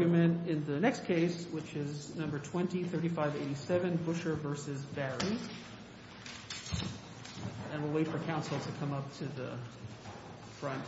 in the next case, which is No. 20-3587, Busher v. Barry, and we'll wait for counsel to come up to the front. Please stand by for a moment of silence while we wait for counsel to come up to the front.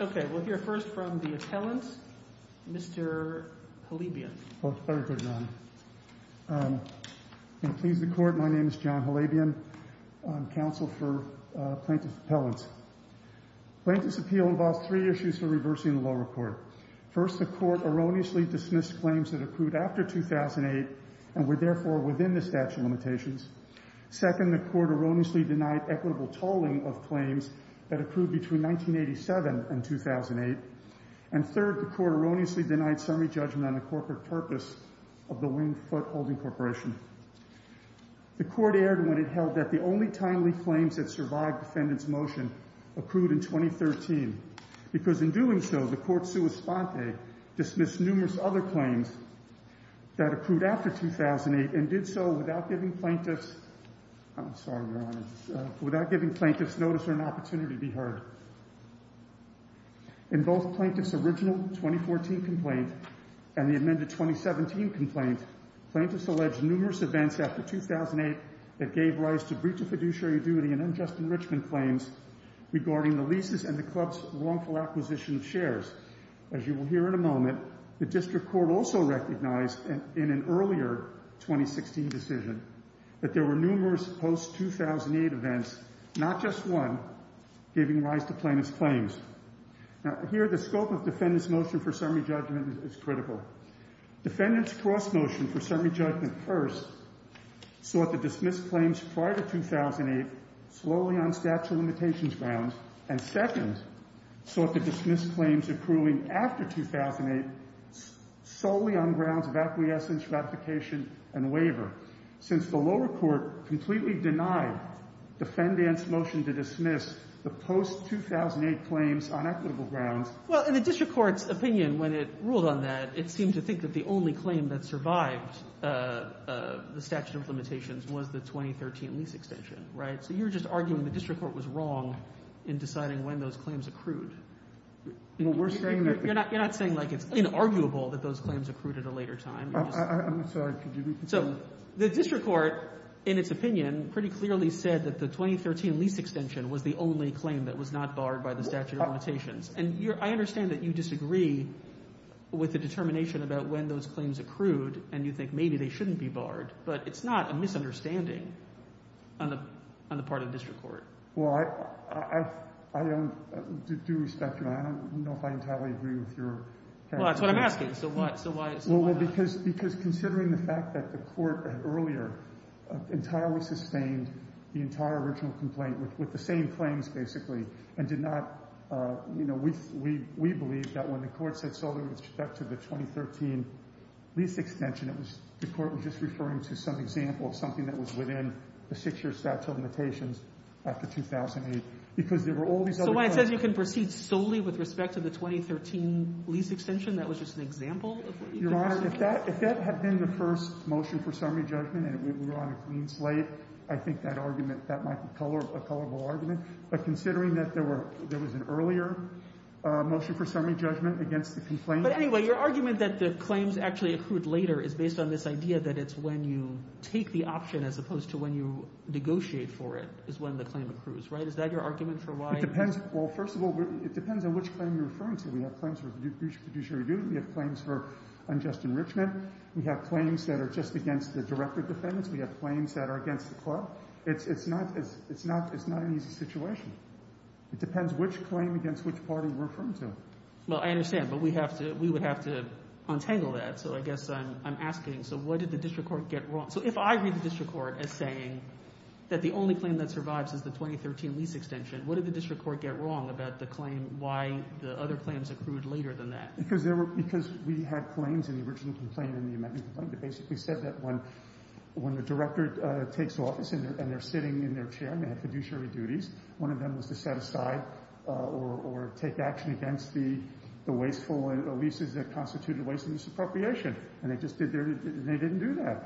Okay, we'll hear first from the appellant, Mr. Halabian. Thank you, Your Honor. And please, the Court, my name is John Halabian. I'm counsel for Plaintiff's Appellants. Plaintiff's Appeal involves three issues for reversing the law report. First, the Court erroneously dismissed claims that accrued after 2008 and were therefore within the statute of limitations. Second, the Court erroneously denied equitable tolling of claims that accrued between 1987 and 2008. And third, the Court erroneously denied summary judgment on the corporate purpose of the Wing-Foot Holding Corporation. The Court erred when it held that the only timely claims that survived defendant's motion accrued in 2013, because in doing so, the Court sua sponte dismissed numerous other claims that accrued after 2008 and did so without giving plaintiffs notice or an opportunity to be heard. In both Plaintiff's original 2014 complaint and the amended 2017 complaint, plaintiffs alleged numerous events after 2008 that gave rise to breach of fiduciary duty and unjust enrichment claims regarding the leases and the club's wrongful acquisition of shares. As you will hear in a moment, the District Court also recognized in an earlier 2016 decision that there were numerous post-2008 events, not just one, giving rise to plaintiff's claims. Now, here the scope of defendant's motion for summary judgment is critical. Defendant's cross motion for summary judgment first sought to dismiss claims prior to 2008 slowly on statute of limitations grounds, and second sought to dismiss claims accruing after 2008 solely on grounds of acquiescence, ratification, and waiver. Since the lower court completely denied defendant's motion to dismiss the post-2008 claims on equitable grounds Well, in the District Court's opinion when it ruled on that, it seemed to think that the only claim that survived the statute of limitations was the 2013 lease extension. So you're just arguing the District Court was wrong in deciding when those claims accrued. You're not saying like it's inarguable that those claims accrued at a later time. I'm sorry. So the District Court in its opinion pretty clearly said that the 2013 lease extension was the only claim that was not barred by the statute of limitations. And I understand that you disagree with the determination about when those claims accrued and you think maybe they shouldn't be barred, but it's not a misunderstanding on the part of the District Court. Well, I do respect your – I don't know if I entirely agree with your – Well, that's what I'm asking. So why not? Well, because considering the fact that the court earlier entirely sustained the entire original complaint with the same claims basically and did not – we believe that when the court said referring to some example of something that was within the six-year statute of limitations after 2008 because there were all these other claims. So when it says you can proceed solely with respect to the 2013 lease extension, that was just an example of what you can proceed with? Your Honor, if that had been the first motion for summary judgment and we were on a clean slate, I think that argument – that might be a colorable argument. But considering that there was an earlier motion for summary judgment against the complaint – But anyway, your argument that the claims actually accrued later is based on this idea that it's when you take the option as opposed to when you negotiate for it is when the claim accrues, right? Is that your argument for why – It depends. Well, first of all, it depends on which claim you're referring to. We have claims for fiduciary duty. We have claims for unjust enrichment. We have claims that are just against the director of defendants. We have claims that are against the club. It's not an easy situation. It depends which claim against which party we're referring to. Well, I understand, but we have to – we would have to untangle that. So I guess I'm asking, so what did the district court get wrong? So if I read the district court as saying that the only claim that survives is the 2013 lease extension, what did the district court get wrong about the claim – why the other claims accrued later than that? Because there were – because we had claims in the original complaint and the amendment complaint that basically said that when the director takes office and they're sitting in their chair and they have fiduciary duties, one of them was to set aside or take action against the wasteful leases that constitute a wasteful lease appropriation. And they just did their – they didn't do that.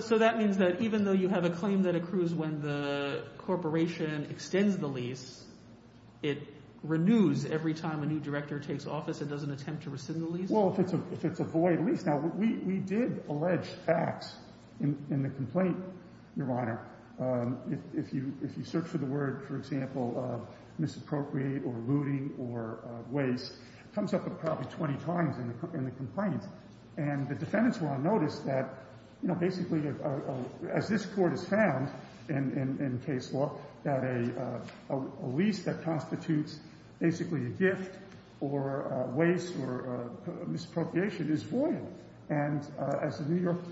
So that means that even though you have a claim that accrues when the corporation extends the lease, it renews every time a new director takes office and doesn't attempt to rescind the lease? Well, if it's a void lease. Now, we did allege facts in the complaint, Your Honor. If you search for the word, for example, misappropriate or looting or waste, it comes up probably 20 times in the complaint. And the defendants will have noticed that, you know, basically as this Court has found in case law, that a lease that constitutes basically a gift or waste or misappropriation is void. And as the New York –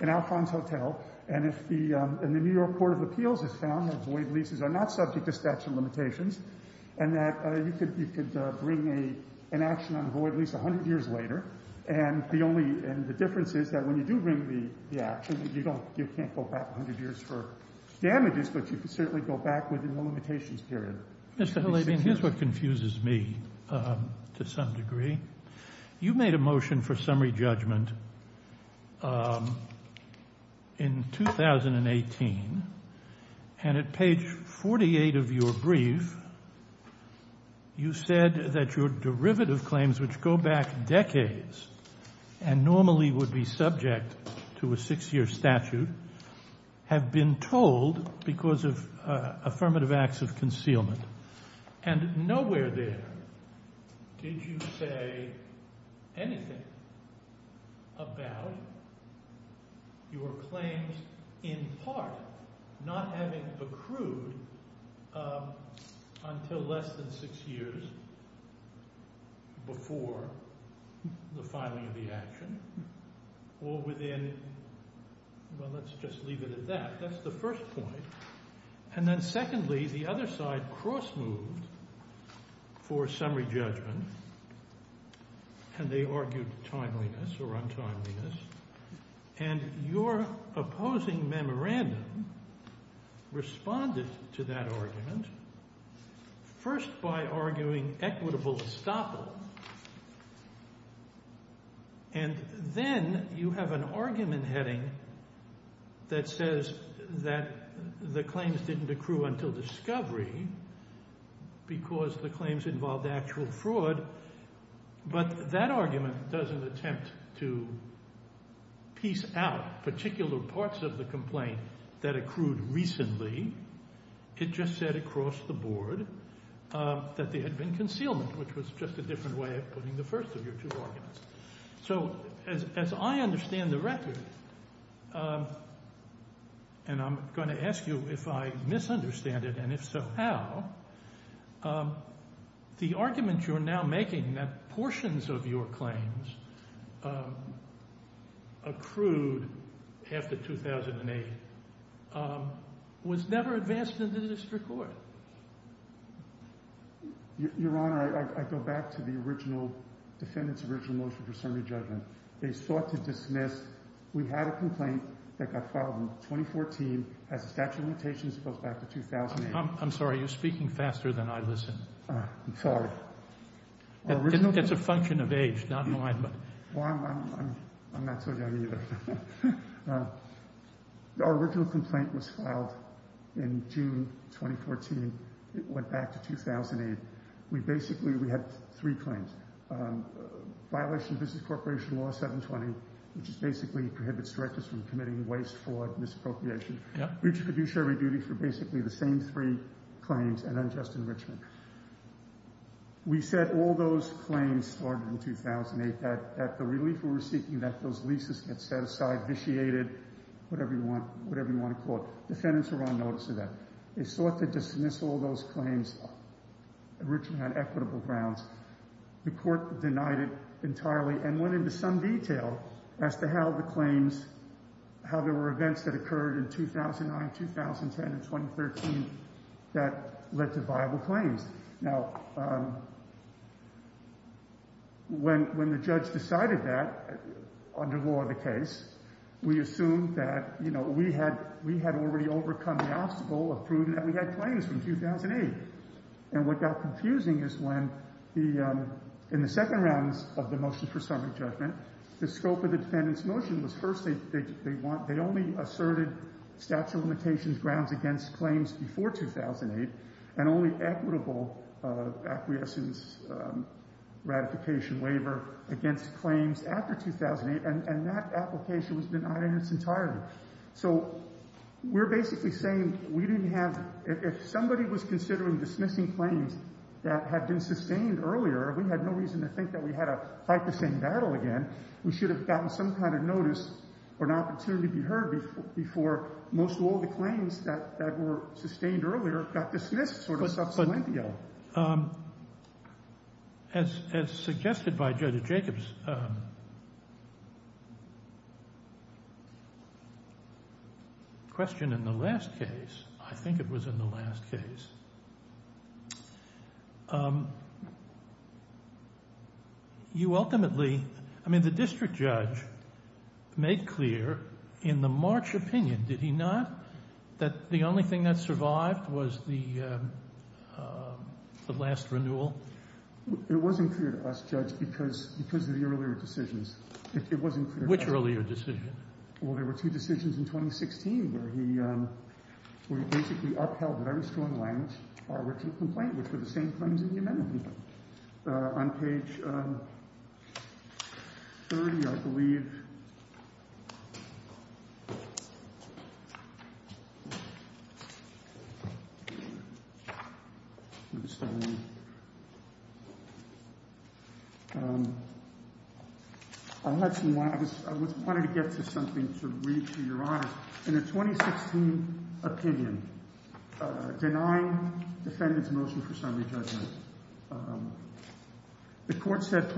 in Alphonse Hotel and if the New York Court of Appeals has found that void leases are not subject to statute of limitations and that you could bring an action on a void lease 100 years later, and the only – and the difference is that when you do bring the action, you don't – you can't go back 100 years for damages, but you can certainly go back within the limitations period. Mr. Halabian, here's what confuses me to some degree. You made a motion for summary judgment in 2018, and at page 48 of your brief, you said that your derivative claims, which go back decades and normally would be subject to a six-year statute, have been told because of affirmative acts of concealment. And nowhere there did you say anything about your claims in part not having accrued until less than six years before the filing of the action or within – well, let's just leave it at that. That's the first point. And then secondly, the other side cross-moved for summary judgment, and they argued timeliness or untimeliness, and your opposing memorandum responded to that argument first by arguing equitable estoppel, and then you have an argument heading that says that the claims didn't accrue until discovery because the claims involved actual fraud, but that argument doesn't attempt to piece out particular parts of the complaint that accrued recently. It just said across the board that there had been concealment, which was just a different way of putting the first of your two arguments. So as I understand the record, and I'm going to ask you if I misunderstand it, and if so, how, the argument you're now making that portions of your claims accrued after 2008 was never advanced into the district court. Your Honor, I go back to the original – defendant's original motion for summary judgment. They sought to dismiss – we had a complaint that got filed in 2014 as a statute of limitations goes back to 2008. I'm sorry. You're speaking faster than I listen. I'm sorry. It's a function of age, not mine. Well, I'm not so young either. Our original complaint was filed in June 2014. It went back to 2008. We basically – we had three claims, violation of business corporation law 720, which is basically prohibits directors from committing waste, fraud, misappropriation. Yeah. Reached a judiciary duty for basically the same three claims and unjust enrichment. We said all those claims started in 2008, that the relief we were seeking, that those leases get set aside, vitiated, whatever you want to call it. Defendants were on notice of that. They sought to dismiss all those claims. Originally had equitable grounds. The court denied it entirely and went into some detail as to how the claims – how there were events that occurred in 2009, 2010, and 2013 that led to viable claims. Now, when the judge decided that, under law of the case, we assumed that, you know, we had already overcome the obstacle of proving that we had claims from 2008. And what got confusing is when the – in the second rounds of the motion for summary judgment, the scope of the defendant's motion was first they want – they only asserted statute of limitations grounds against claims before 2008 and only equitable acquiescence ratification waiver against claims after 2008. And that application was denied in its entirety. So we're basically saying we didn't have – if somebody was considering dismissing claims that had been sustained earlier, we had no reason to think that we had to fight the same battle again. We should have gotten some kind of notice or an opportunity to be heard before most of all the claims that were sustained earlier got dismissed sort of sub salientio. As suggested by Judge Jacobs' question in the last case – I think it was in the last case – you ultimately – I mean the district judge made clear in the March opinion, did he not, that the only thing that survived was the last renewal? It wasn't clear to us, Judge, because of the earlier decisions. It wasn't clear to us. Which earlier decision? Well, there were two decisions in 2016 where he basically upheld very strong language which were the same claims in the amendment. On page 30, I believe – I wanted to get to something to read to your eyes. In a 2016 opinion, denying defendant's motion for summary judgment, the court said,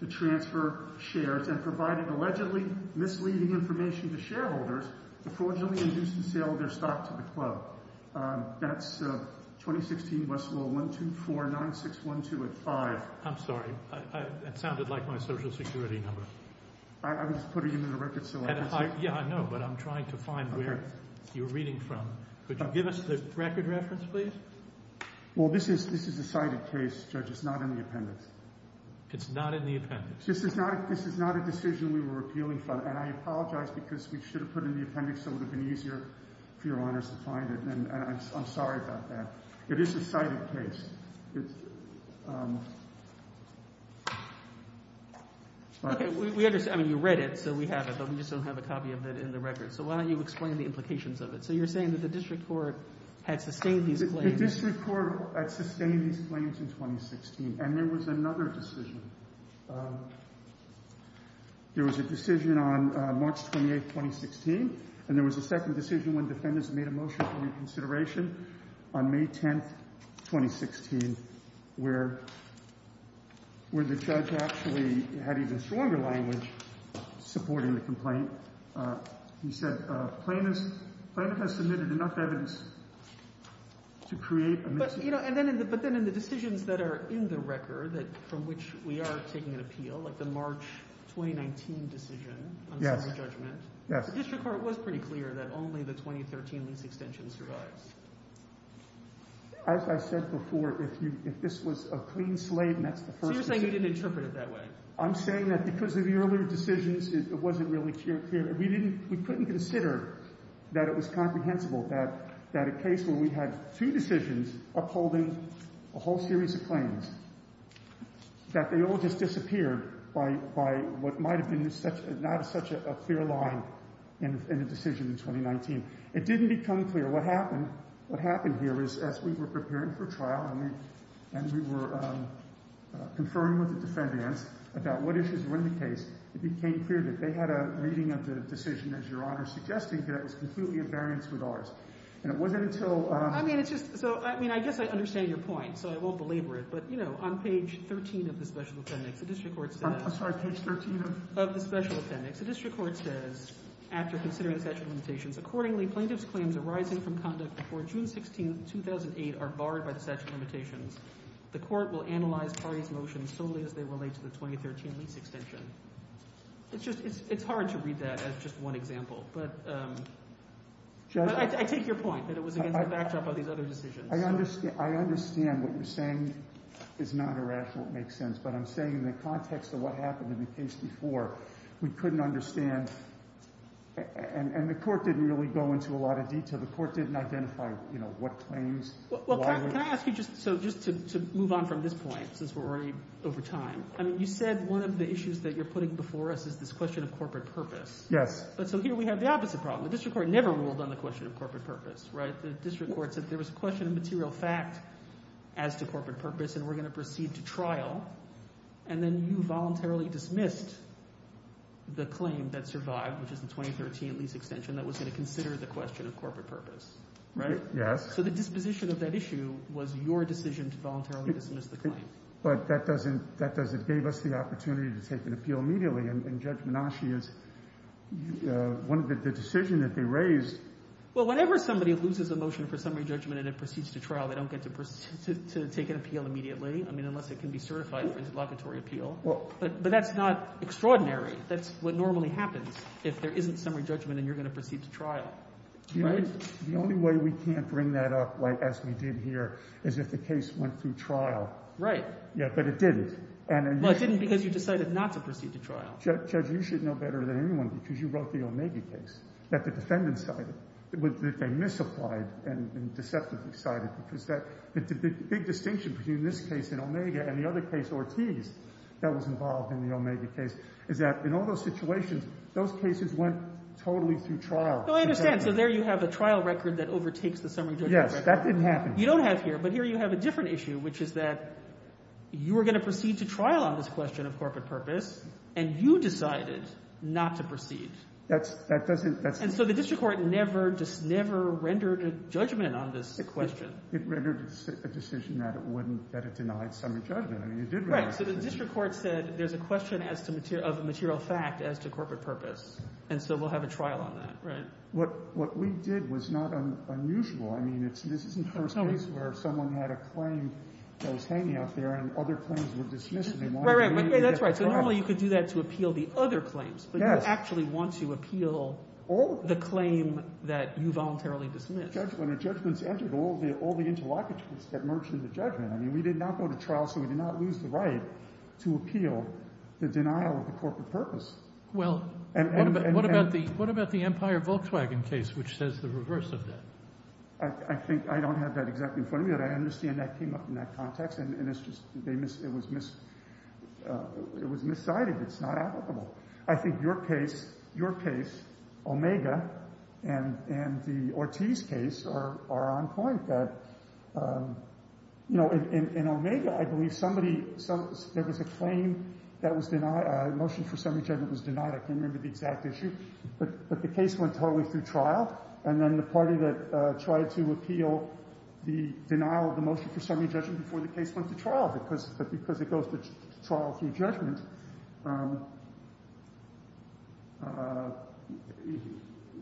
to transfer shares and provided allegedly misleading information to shareholders to fraudulently induce the sale of their stock to the club. That's 2016 Westwall 1249612 at 5. I'm sorry. It sounded like my social security number. I was putting it in the record so I could see. Yeah, I know, but I'm trying to find where you're reading from. Could you give us the record reference, please? Well, this is a cited case, Judge. It's not in the appendix. It's not in the appendix. This is not a decision we were appealing for, and I apologize because we should have put it in the appendix so it would have been easier for your honors to find it, and I'm sorry about that. It is a cited case. Okay, we understand. I mean, you read it, so we have it, but we just don't have a copy of it in the record, so why don't you explain the implications of it? So you're saying that the district court had sustained these claims? The district court had sustained these claims in 2016, and there was another decision. There was a decision on March 28, 2016, and there was a second decision when defendants made a motion for reconsideration on May 10, 2016, where the judge actually had even stronger language supporting the complaint. He said, Plaintiff has submitted enough evidence to create a mis- But then in the decisions that are in the record from which we are taking an appeal, like the March 2019 decision on summary judgment, the district court was pretty clear that only the 2013 lease extension survives. As I said before, if this was a clean slate and that's the first decision- So you're saying you didn't interpret it that way? I'm saying that because of the earlier decisions, it wasn't really clear. We couldn't consider that it was comprehensible that a case where we had two decisions upholding a whole series of claims, that they all just disappeared by what might have been not such a clear line in a decision in 2019. It didn't become clear. What happened here is as we were preparing for trial and we were conferring with the defendants about what issues were in the case, it became clear that they had a reading of the decision, as Your Honor suggested, that it was completely in variance with ours. And it wasn't until- I mean, it's just- I mean, I guess I understand your point, so I won't belabor it. But, you know, on page 13 of the special appendix, the district court says- I'm sorry, page 13 of- Of the special appendix, the district court says, after considering the statute of limitations, accordingly, plaintiff's claims arising from conduct before June 16, 2008 are barred by the statute of limitations. The court will analyze parties' motions solely as they relate to the 2013 lease extension. It's just- It's hard to read that as just one example. But I take your point, that it was against the backdrop of these other decisions. I understand what you're saying is not irrational. It makes sense. But I'm saying in the context of what happened in the case before, we couldn't understand- And the court didn't really go into a lot of detail. The court didn't identify, you know, what claims- Well, can I ask you just- So just to move on from this point, since we're already over time. I mean, you said one of the issues that you're putting before us is this question of corporate purpose. Yes. But so here we have the opposite problem. The district court never ruled on the question of corporate purpose, right? The district court said there was a question of material fact as to corporate purpose, and we're going to proceed to trial. And then you voluntarily dismissed the claim that survived, which is the 2013 lease extension, that was going to consider the question of corporate purpose. Right? Yes. So the disposition of that issue was your decision to voluntarily dismiss the claim. But that doesn't- That doesn't give us the opportunity to take an appeal immediately. And Judge Menasche is- One of the decisions that they raised- Well, whenever somebody loses a motion for summary judgment and it proceeds to trial, they don't get to proceed to take an appeal immediately, I mean, unless it can be certified for interlocutory appeal. Well- But that's not extraordinary. That's what normally happens. If there isn't summary judgment and you're going to proceed to trial. Right? The only way we can't bring that up, like as we did here, is if the case went through trial. Right. Yeah, but it didn't. Well, it didn't because you decided not to proceed to trial. Judge, you should know better than anyone because you wrote the Omega case that the defendant cited, that they misapplied and deceptively cited because the big distinction between this case in Omega and the other case, Ortiz, that was involved in the Omega case is that in all those situations, those cases went totally through trial. No, I understand. So there you have a trial record that overtakes the summary judgment record. Yes. That didn't happen here. You don't have here. But here you have a different issue, which is that you were going to proceed to trial on this question of corporate purpose and you decided not to proceed. That doesn't... And so the district court never, just never rendered a judgment on this question. It rendered a decision that it wouldn't, that it denied summary judgment. I mean, it did... Right. So the district court said there's a question of a material fact as to corporate purpose. And so we'll have a trial on that. Right. What we did was not unusual. I mean, this isn't the first case where someone had a claim that was hanging out there and other claims were dismissed and they wanted to... Right, right. That's right. So normally you could do that to appeal the other claims. Yes. But you actually want to appeal the claim that you voluntarily dismissed. Judgment. A judgment's entered all the interlockages that merge into judgment. I mean, we did not go to trial so we did not lose the right to appeal the denial of the corporate purpose. Well, what about the Empire Volkswagen case, which says the reverse of that? I think... I don't have that exactly in front of me, but I understand that came up in that context and it's just... It was miscited. It's not applicable. I think your case, Omega, and the Ortiz case are on point. You know, in Omega, I believe somebody... There was a claim that was denied, a motion for semi-judgment that was denied. I can't remember the exact issue. But the case went totally through trial and then the party that tried to appeal the denial of the motion for semi-judgment before the case went to trial because it goes to trial through judgment.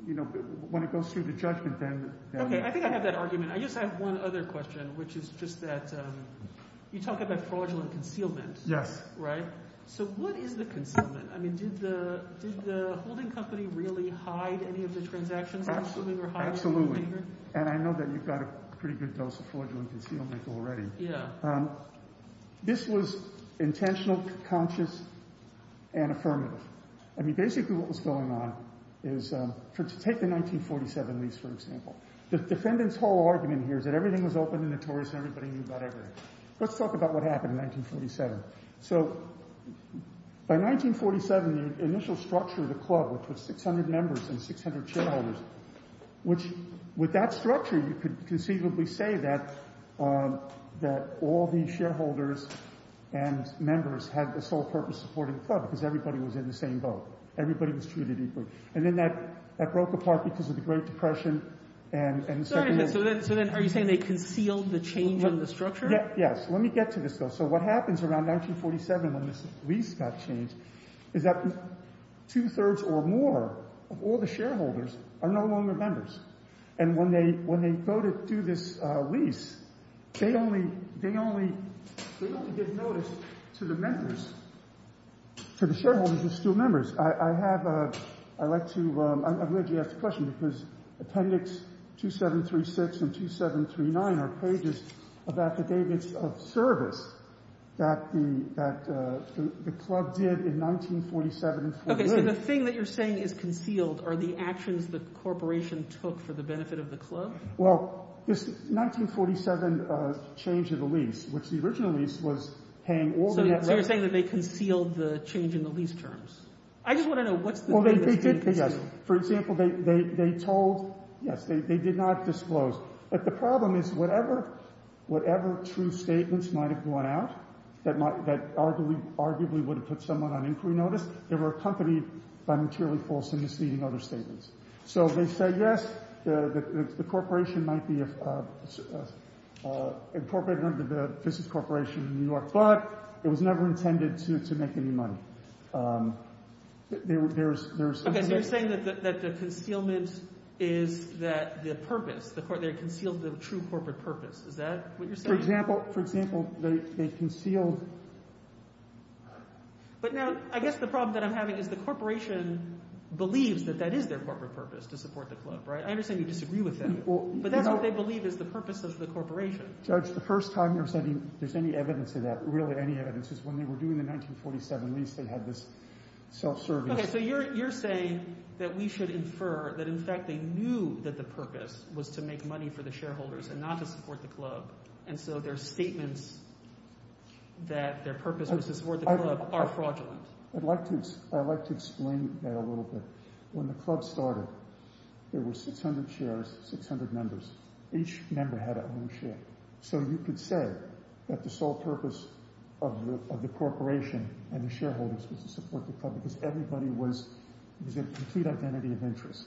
You know, when it goes through the judgment, then... Okay, I think I have that argument. I just have one other question, which is just that you talk about fraudulent concealment. Yes. Right? So what is the concealment? I mean, did the holding company really hide any of the transactions? Absolutely. And I know that you've got a pretty good dose of fraudulent concealment already. Yeah. This was intentional, conscious, and affirmative. I mean, basically what was going on is... Take the 1947 lease, for example. The defendant's whole argument here is that everything was open and notorious and everybody knew about everything. Let's talk about what happened in 1947. So by 1947, the initial structure of the club, which was 600 members and 600 shareholders, which, with that structure, you could conceivably say that all the shareholders and members had a sole-purpose supporting club because everybody was in the same boat. Everybody was treated equally. And then that broke apart because of the Great Depression and... Sorry. So then are you saying they concealed the change in the structure? Yes. Let me get to this, though. So what happens around 1947 when this lease got changed is that two-thirds or more of all the shareholders are no longer members. And when they go to do this lease, they only give notice to the members, to the shareholders who are still members. I have a... I'd like to... I'm glad you asked the question because Appendix 2736 and 2739 are pages of affidavits of service that the club did in 1947. Okay. So the thing that you're saying is concealed are the actions the corporation took for the benefit of the club? Well, this 1947 change of the lease, which the original lease was paying... So you're saying that they concealed the change in the lease terms. I just want to know what's the... Well, they did, yes. For example, they told... Yes, they did not disclose. But the problem is that whatever true statements might have gone out that arguably would have put someone on inquiry notice, they were accompanied by materially false and misleading other statements. So they said, yes, the corporation might be incorporated under the business corporation in New York, but it was never intended to make any money. Okay, so you're saying that the concealment is that the purpose, they concealed the true corporate purpose. Is that what you're saying? For example, they concealed... But now, I guess the problem that I'm having is the corporation believes that that is their corporate purpose to support the club, right? I understand you disagree with them, but that's what they believe is the purpose of the corporation. Judge, the first time you're saying there's any evidence of that, really any evidence, is when they were doing the 1947 lease, they had this self-service... Okay, so you're saying that we should infer that in fact they knew that the purpose was to make money for the shareholders and not to support the club, and so their statements that their purpose was to support the club are fraudulent. I'd like to explain that a little bit. When the club started, there were 600 shares, 600 members. Each member had their own share. So you could say that the sole purpose of the corporation and the shareholders was to support the club because everybody was a complete identity of interest.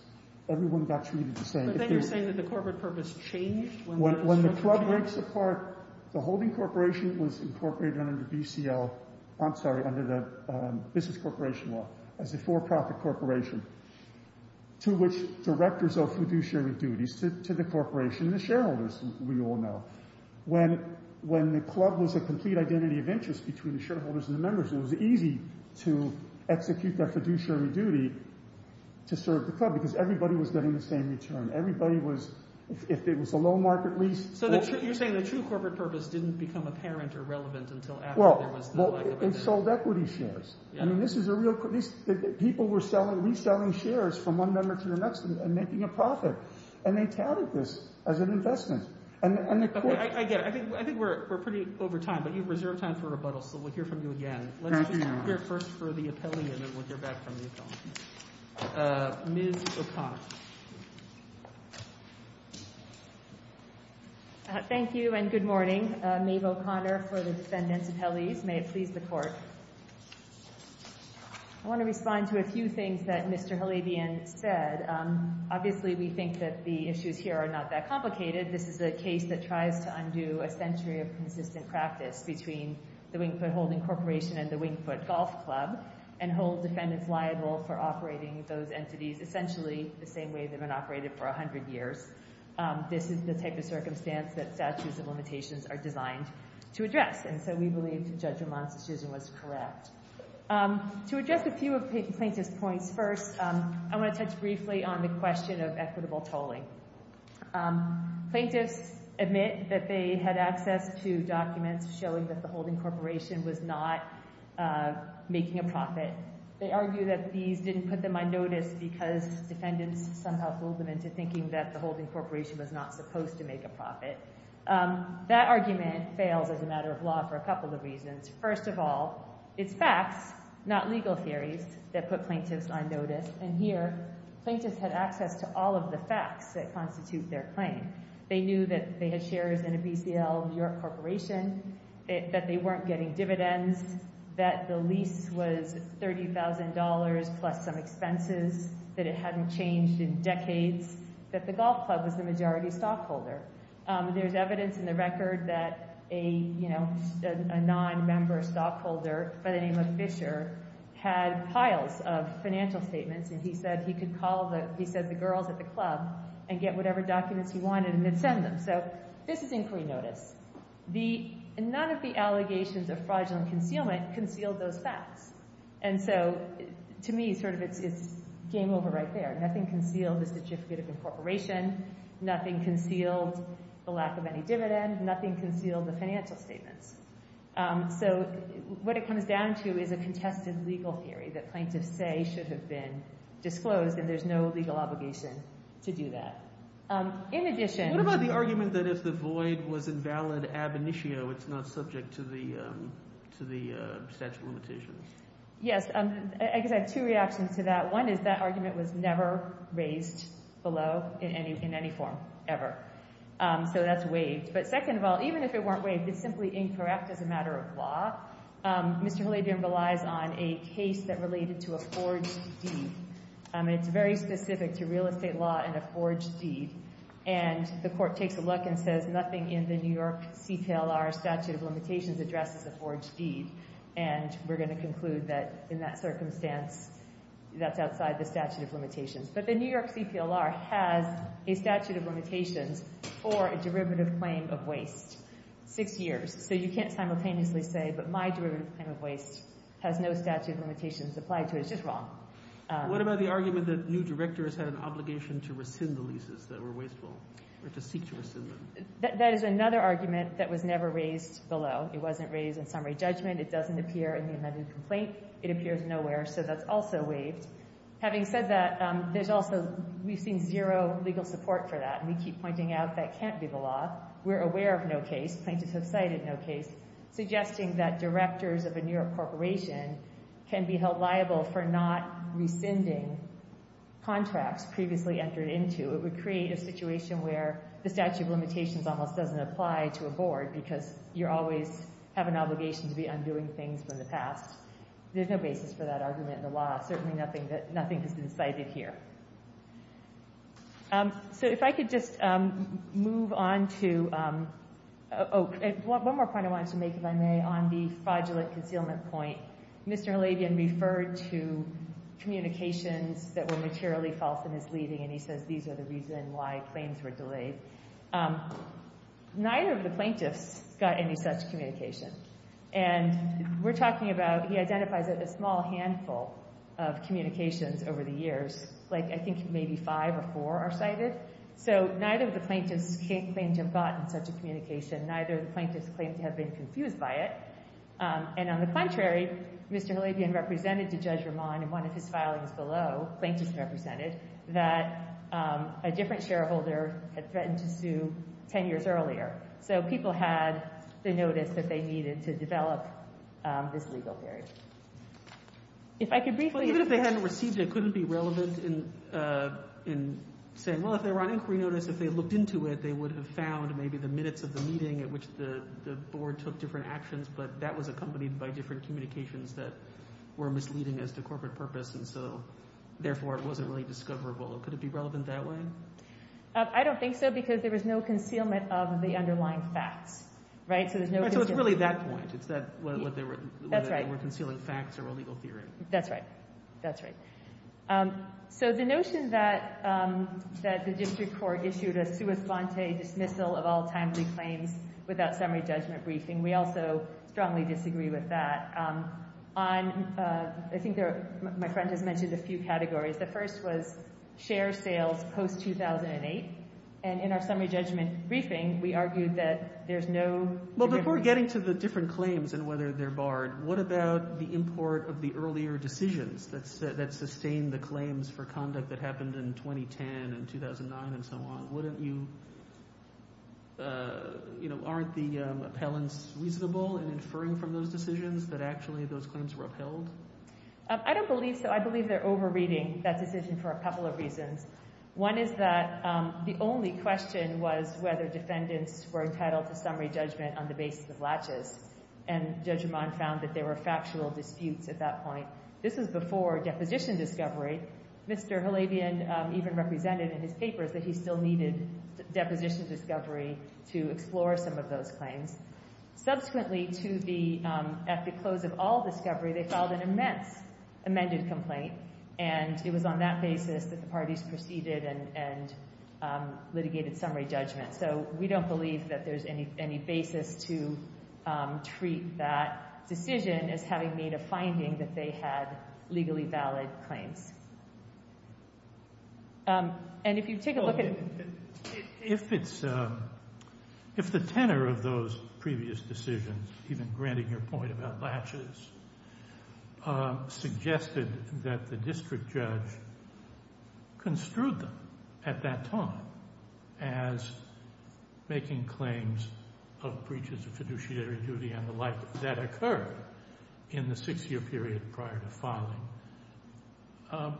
Everyone got treated the same. So then you're saying that the corporate purpose changed? When the club breaks apart, the holding corporation was incorporated under the business corporation law as a for-profit corporation, to which directors owe fiduciary duties to the corporation and the shareholders, we all know. When the club was a complete identity of interest it was easy to execute that fiduciary duty to serve the club because everybody was getting the same return. Everybody was... If it was a low market lease... So you're saying the true corporate purpose didn't become apparent or relevant until after there was no lack of equity? Well, it sold equity shares. I mean, this is a real... People were reselling shares from one member to the next and making a profit. And they touted this as an investment. I get it. I think we're pretty over time, but you've reserved time for rebuttal, so we'll hear from you again. Thank you. Let's hear first from the appellee and then we'll hear back from the appellee. Ms. O'Connor. Thank you and good morning. Maeve O'Connor for the defendants' appellees. May it please the Court. I want to respond to a few things that Mr. Halabian said. Obviously, we think that the issues here are not that complicated. This is a case that tries to undo a century of consistent practice between the Wingfoot Holding Corporation and the Wingfoot Golf Club and hold defendants liable for operating those entities essentially the same way they've been operated for 100 years. This is the type of circumstance that statutes of limitations are designed to address. And so we believe Judge Ramon's decision was correct. To address a few of the plaintiff's points, first, I want to touch briefly on the question of equitable tolling. Plaintiffs admit that they had access to documents showing that the Holding Corporation was not making a profit. They argue that these didn't put them on notice because defendants somehow fooled them into thinking that the Holding Corporation was not supposed to make a profit. That argument fails as a matter of law for a couple of reasons. First of all, it's facts, not legal theories, that put plaintiffs on notice. And here, plaintiffs had access to all of the facts that constitute their claim. They knew that they had shares in a BCL New York corporation, that they weren't getting dividends, that the lease was $30,000 plus some expenses, that it hadn't changed in decades, that the golf club was the majority stockholder. There's evidence in the record that a, you know, a non-member stockholder by the name of Fisher had piles of financial statements and he said he could call the, he said the girls at the club and get whatever documents he wanted and then send them. So this is inquiry notice. None of the allegations of fraudulent concealment concealed those facts. And so, to me, sort of, it's game over right there. Nothing concealed the certificate of incorporation. Nothing concealed the lack of any dividend. Nothing concealed the financial statements. So what it comes down to is a contested legal theory that plaintiffs say should have been disclosed and there's no legal obligation to do that. In addition... What about the argument that if the void was invalid ab initio, it's not subject to the statute of limitations? Yes. I guess I have two reactions to that. One is that argument was never raised below in any form, ever. So that's waived. But second of all, even if it weren't waived, it's simply incorrect as a matter of law. Mr. Halabian relies on a case that related to a forged deed. to real estate law and a forged deed. And the court takes a look and says nothing in the New York CPLR statute of limitations addresses a forged deed. And we're going to conclude that in that circumstance that's outside the statute of limitations. But the New York CPLR has a statute of limitations for a derivative claim of waste. Six years. So you can't simultaneously say but my derivative claim of waste has no statute of limitations applied to it. It's just wrong. What about the argument that new directors had an obligation to rescind the leases that were wasteful or to seek to rescind them? That is another argument that was never raised below. It wasn't raised in summary judgment. It doesn't appear in the amended complaint. It appears nowhere. So that's also waived. Having said that, there's also, we've seen zero legal support for that. And we keep pointing out that can't be the law. We're aware of no case. Plaintiffs have cited no case suggesting that directors of a New York corporation can be held liable for not rescinding contracts previously entered into. It would create a situation where the statute of limitations almost doesn't apply to a board because you always have an obligation to be undoing things from the past. There's no basis for that argument in the law. Certainly nothing has been cited here. So if I could just move on to... Oh, one more point I wanted to make, if I may, on the fraudulent concealment point. Mr. Halabian referred to communications that were materially false in his leading and he says these are the reason why claims were delayed. Neither of the plaintiffs got any such communication. And we're talking about, he identifies that a small handful of communications over the years, like I think maybe five or four are cited. So neither of the plaintiffs claimed to have gotten such a communication. Neither of the plaintiffs claimed to have been confused by it. And on the contrary, Mr. Halabian represented to Judge Ramon in one of his filings below, plaintiffs represented, that a different shareholder had threatened to sue 10 years earlier. So people had the notice that they needed to develop this legal theory. If I could briefly... Even if they hadn't received it, could it be relevant in saying, well, if they were on inquiry notice, if they looked into it, they would have found maybe the minutes of the meeting at which the board took different actions, but that was accompanied by different communications that were misleading as to corporate purpose and so therefore it wasn't really discoverable. Could it be relevant that way? I don't think so because there was no concealment of the underlying facts, right? So there's no... So it's really that point. It's that what they were... That's right. They were concealing facts or a legal theory. That's right. That's right. So the notion that the district court issued a sua sponte dismissal of all timely claims without summary judgment briefing, we also strongly disagree with that. I think my friend has mentioned a few categories. The first was share sales post 2008 and in our summary judgment briefing we argued that there's no... Well, before getting to the different claims and whether they're barred, what about the import of the earlier decisions that sustained the claims for conduct that happened in 2010 and 2009 and so on? Wouldn't you... You know, aren't the appellants reasonable in inferring from those decisions that actually those claims were upheld? I don't believe so. I believe they're overreading that decision for a couple of reasons. One is that the only question was whether defendants were entitled to summary judgment on the basis of latches and Judge Amman found that there were factual disputes at that point. This was before deposition discovery. Mr. Halabian even represented in his papers that he still needed deposition discovery to explore some of those claims. Subsequently, at the close of all discovery, they filed an immense amended complaint and it was on that basis that the parties proceeded and litigated summary judgment. So we don't believe that there's any basis to treat that decision as having made a finding that they had legally valid claims. And if you take a look at... If it's... If the tenor of those previous decisions, even granting your point about latches, suggested that the district judge construed them at that time as making claims of breaches of fiduciary duty and the like that occurred in the six-year period prior to filing,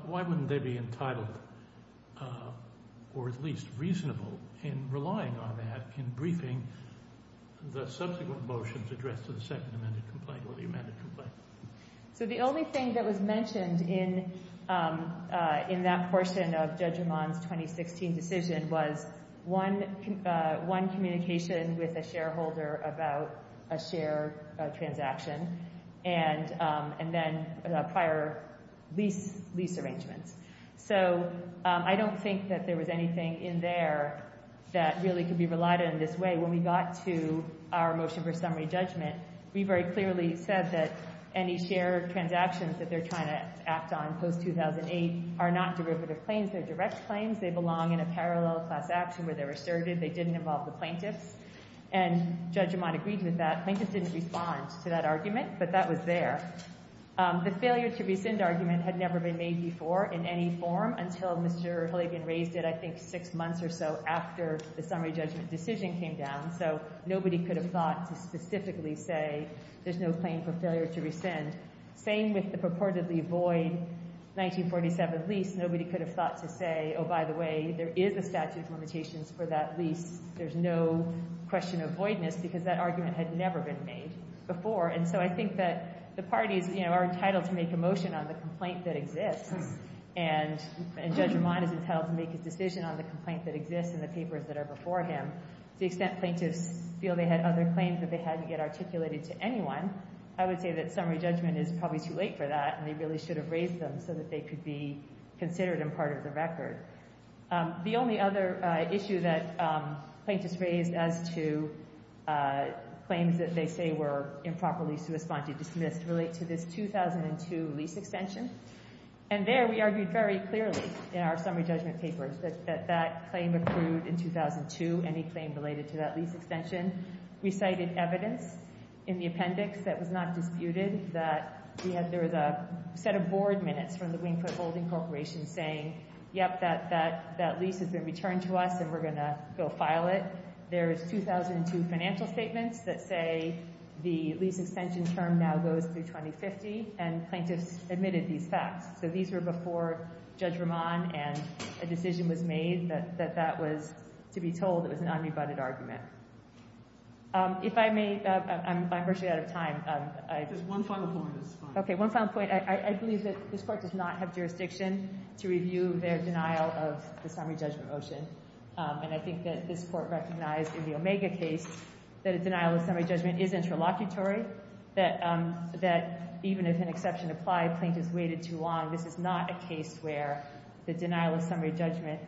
why wouldn't they be entitled or at least reasonable in relying on that in briefing the subsequent motions addressed to the second amended complaint or the amended complaint? So the only thing that was mentioned in that portion of Judge Ramon's 2016 decision was one communication with a shareholder about a share transaction and then prior lease arrangements. So I don't think that there was anything in there that really could be relied on in this way. When we got to our motion for summary judgment, we very clearly said that any share transactions that they're trying to act on post-2008 are not derivative claims. They're direct claims. They belong in a parallel class action where they're assertive. They didn't involve the plaintiffs. And Judge Ramon agreed with that. Plaintiffs didn't respond to that argument, but that was there. The failure to rescind argument had never been made before in any form until Mr. Hilligan raised it, I think, six months or so after the summary judgment decision came down. So nobody could have thought to specifically say there's no claim for failure to rescind. Same with the purportedly void 1947 lease. Nobody could have thought to say, oh, by the way, there is a statute of limitations for that lease. There's no question of voidness because that argument had never been made before. And so I think that the parties are entitled to make a motion on the complaint that exists. And Judge Ramon is entitled to make his decision on the complaint that exists in the papers that are before him. To the extent plaintiffs feel they had other claims that they had to get articulated to anyone, I would say that summary judgment is probably too late for that and they really should have raised them so that they could be considered and part of the record. The only other issue that plaintiffs raised as to claims that they say were improperly suespanti dismissed relate to this 2002 lease extension. And there we argued very clearly in our summary judgment papers that that claim accrued in 2002, any claim related to that lease extension. We cited evidence in the appendix that was not disputed that there was a set of board minutes from the Wingfoot Holding Corporation saying, yep, that lease has been returned to us and we're going to go file it. There is 2002 financial statements that say the lease extension term now goes through 2050 and plaintiffs admitted these facts. So these were before Judge Ramon and a decision was made that that was, to be told, it was an unrebutted argument. If I may, I'm virtually out of time. Just one final point is fine. Okay, one final point. I believe that this Court does not have jurisdiction to review their denial of the summary judgment motion. And I think that this Court recognized in the Omega case that a denial of summary judgment is interlocutory, that even if an exception applied, plaintiffs waited too long. This is not a case where the denial of summary judgment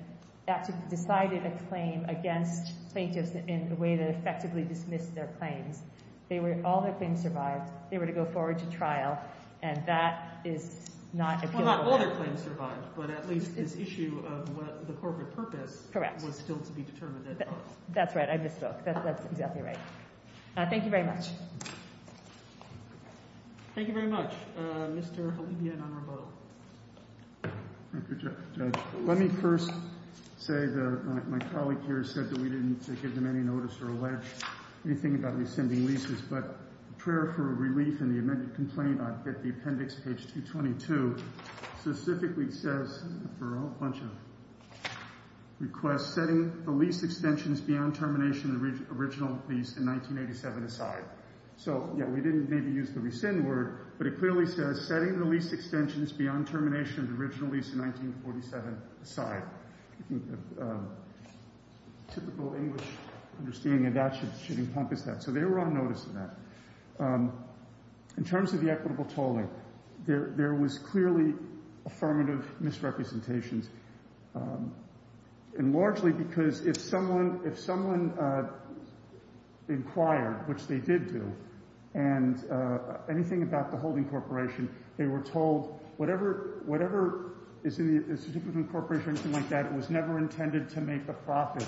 actually decided a claim against plaintiffs in a way that effectively dismissed their claims. All their claims survived. They were to go forward to trial. And that is not appealable. Well, not all their claims survived, but at least this issue of the corporate purpose was still to be determined then. That's right, I misspoke. That's exactly right. Thank you very much. Thank you very much, Mr. Halibian on rebuttal. Thank you, Judge. Let me first say that my colleague here said that we didn't give them any notice or allege anything about rescinding leases, but a prayer for relief in the amended complaint on appendix page 22 specifically says for a whole bunch of requests, setting the lease extensions beyond termination of the original lease in 1987 aside. So, yeah, we didn't maybe use the rescind word, but it clearly says setting the lease extensions beyond termination of the original lease in 1947 aside. Typical English understanding and that should encompass that. So they were on notice of that. In terms of the equitable tolling, there was clearly affirmative misrepresentations and largely because if someone inquired, which they did do, and anything about the holding corporation, they were told whatever is in the corporation or anything like that was never intended to make a profit.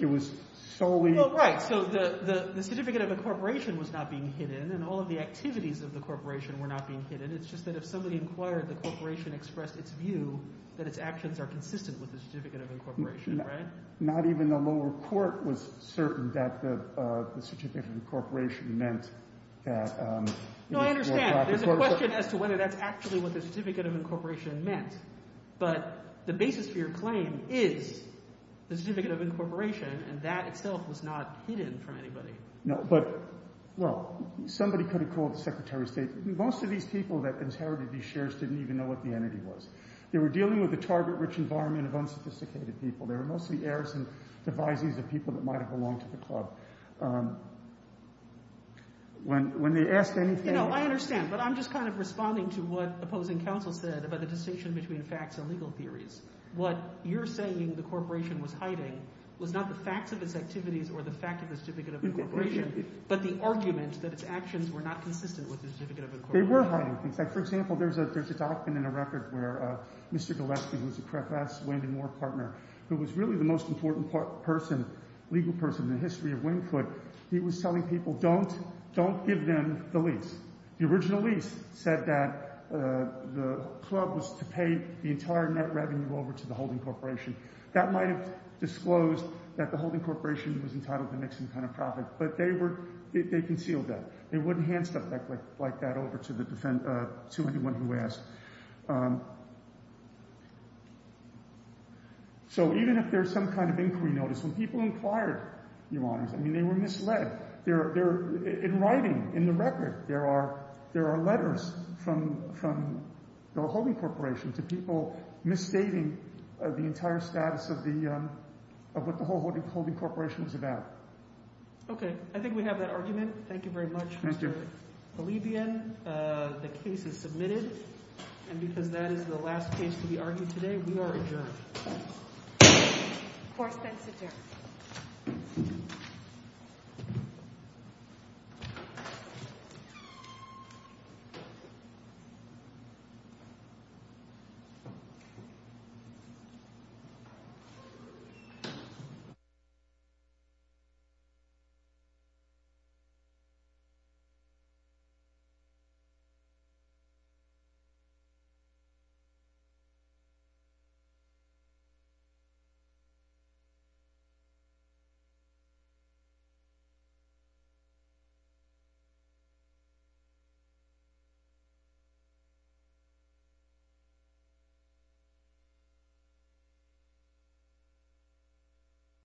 It was solely... Well, right. So the certificate of incorporation was not being hidden and all of the activities of the corporation were not being hidden. It's just that if somebody inquired, the corporation expressed its view that its actions are consistent with the certificate of incorporation, right? Not even the lower court was certain that the certificate of incorporation meant that... No, I understand. There's a question as to whether that's actually what the certificate of incorporation meant. But the basis for your claim is the certificate of incorporation and that itself was not hidden from anybody. No, but... Well, somebody could have called the Secretary of State. Most of these people that inherited these shares didn't even know what the entity was. They were dealing with the target-rich environment of unsophisticated people. They were mostly heirs and devisees of people that might have belonged to the club. When they asked anything... You know, I understand, but I'm just kind of responding to what opposing counsel said about the distinction between facts and legal theories. What you're saying the corporation was hiding was not the facts of its activities or the fact of the certificate of incorporation, but the argument that its actions were not consistent with the certificate of incorporation. They were hiding things. Like, for example, there's a document in a record where Mr. Gillespie, who's a CFS-Wyndham War partner, who was really the most important person, legal person in the history of Wynkwood, he was telling people, don't give them the lease. The original lease said that the club was to pay the entire net revenue over to the holding corporation. That might have disclosed that the holding corporation was entitled to make some kind of profit, but they concealed that. They wouldn't hand stuff like that over to anyone who asked. So even if there's some kind of inquiry notice, when people inquired, Your Honors, I mean, they were misled. In writing, in the record, there are letters from the holding corporation to people misstating the entire status of what the whole holding corporation was about. Okay. I think we have that argument. Thank you very much, Mr. Polibian. The case is submitted. And because that is the last case to be argued today, we are adjourned. Of course, thanks, sir. Thank you. Thank you.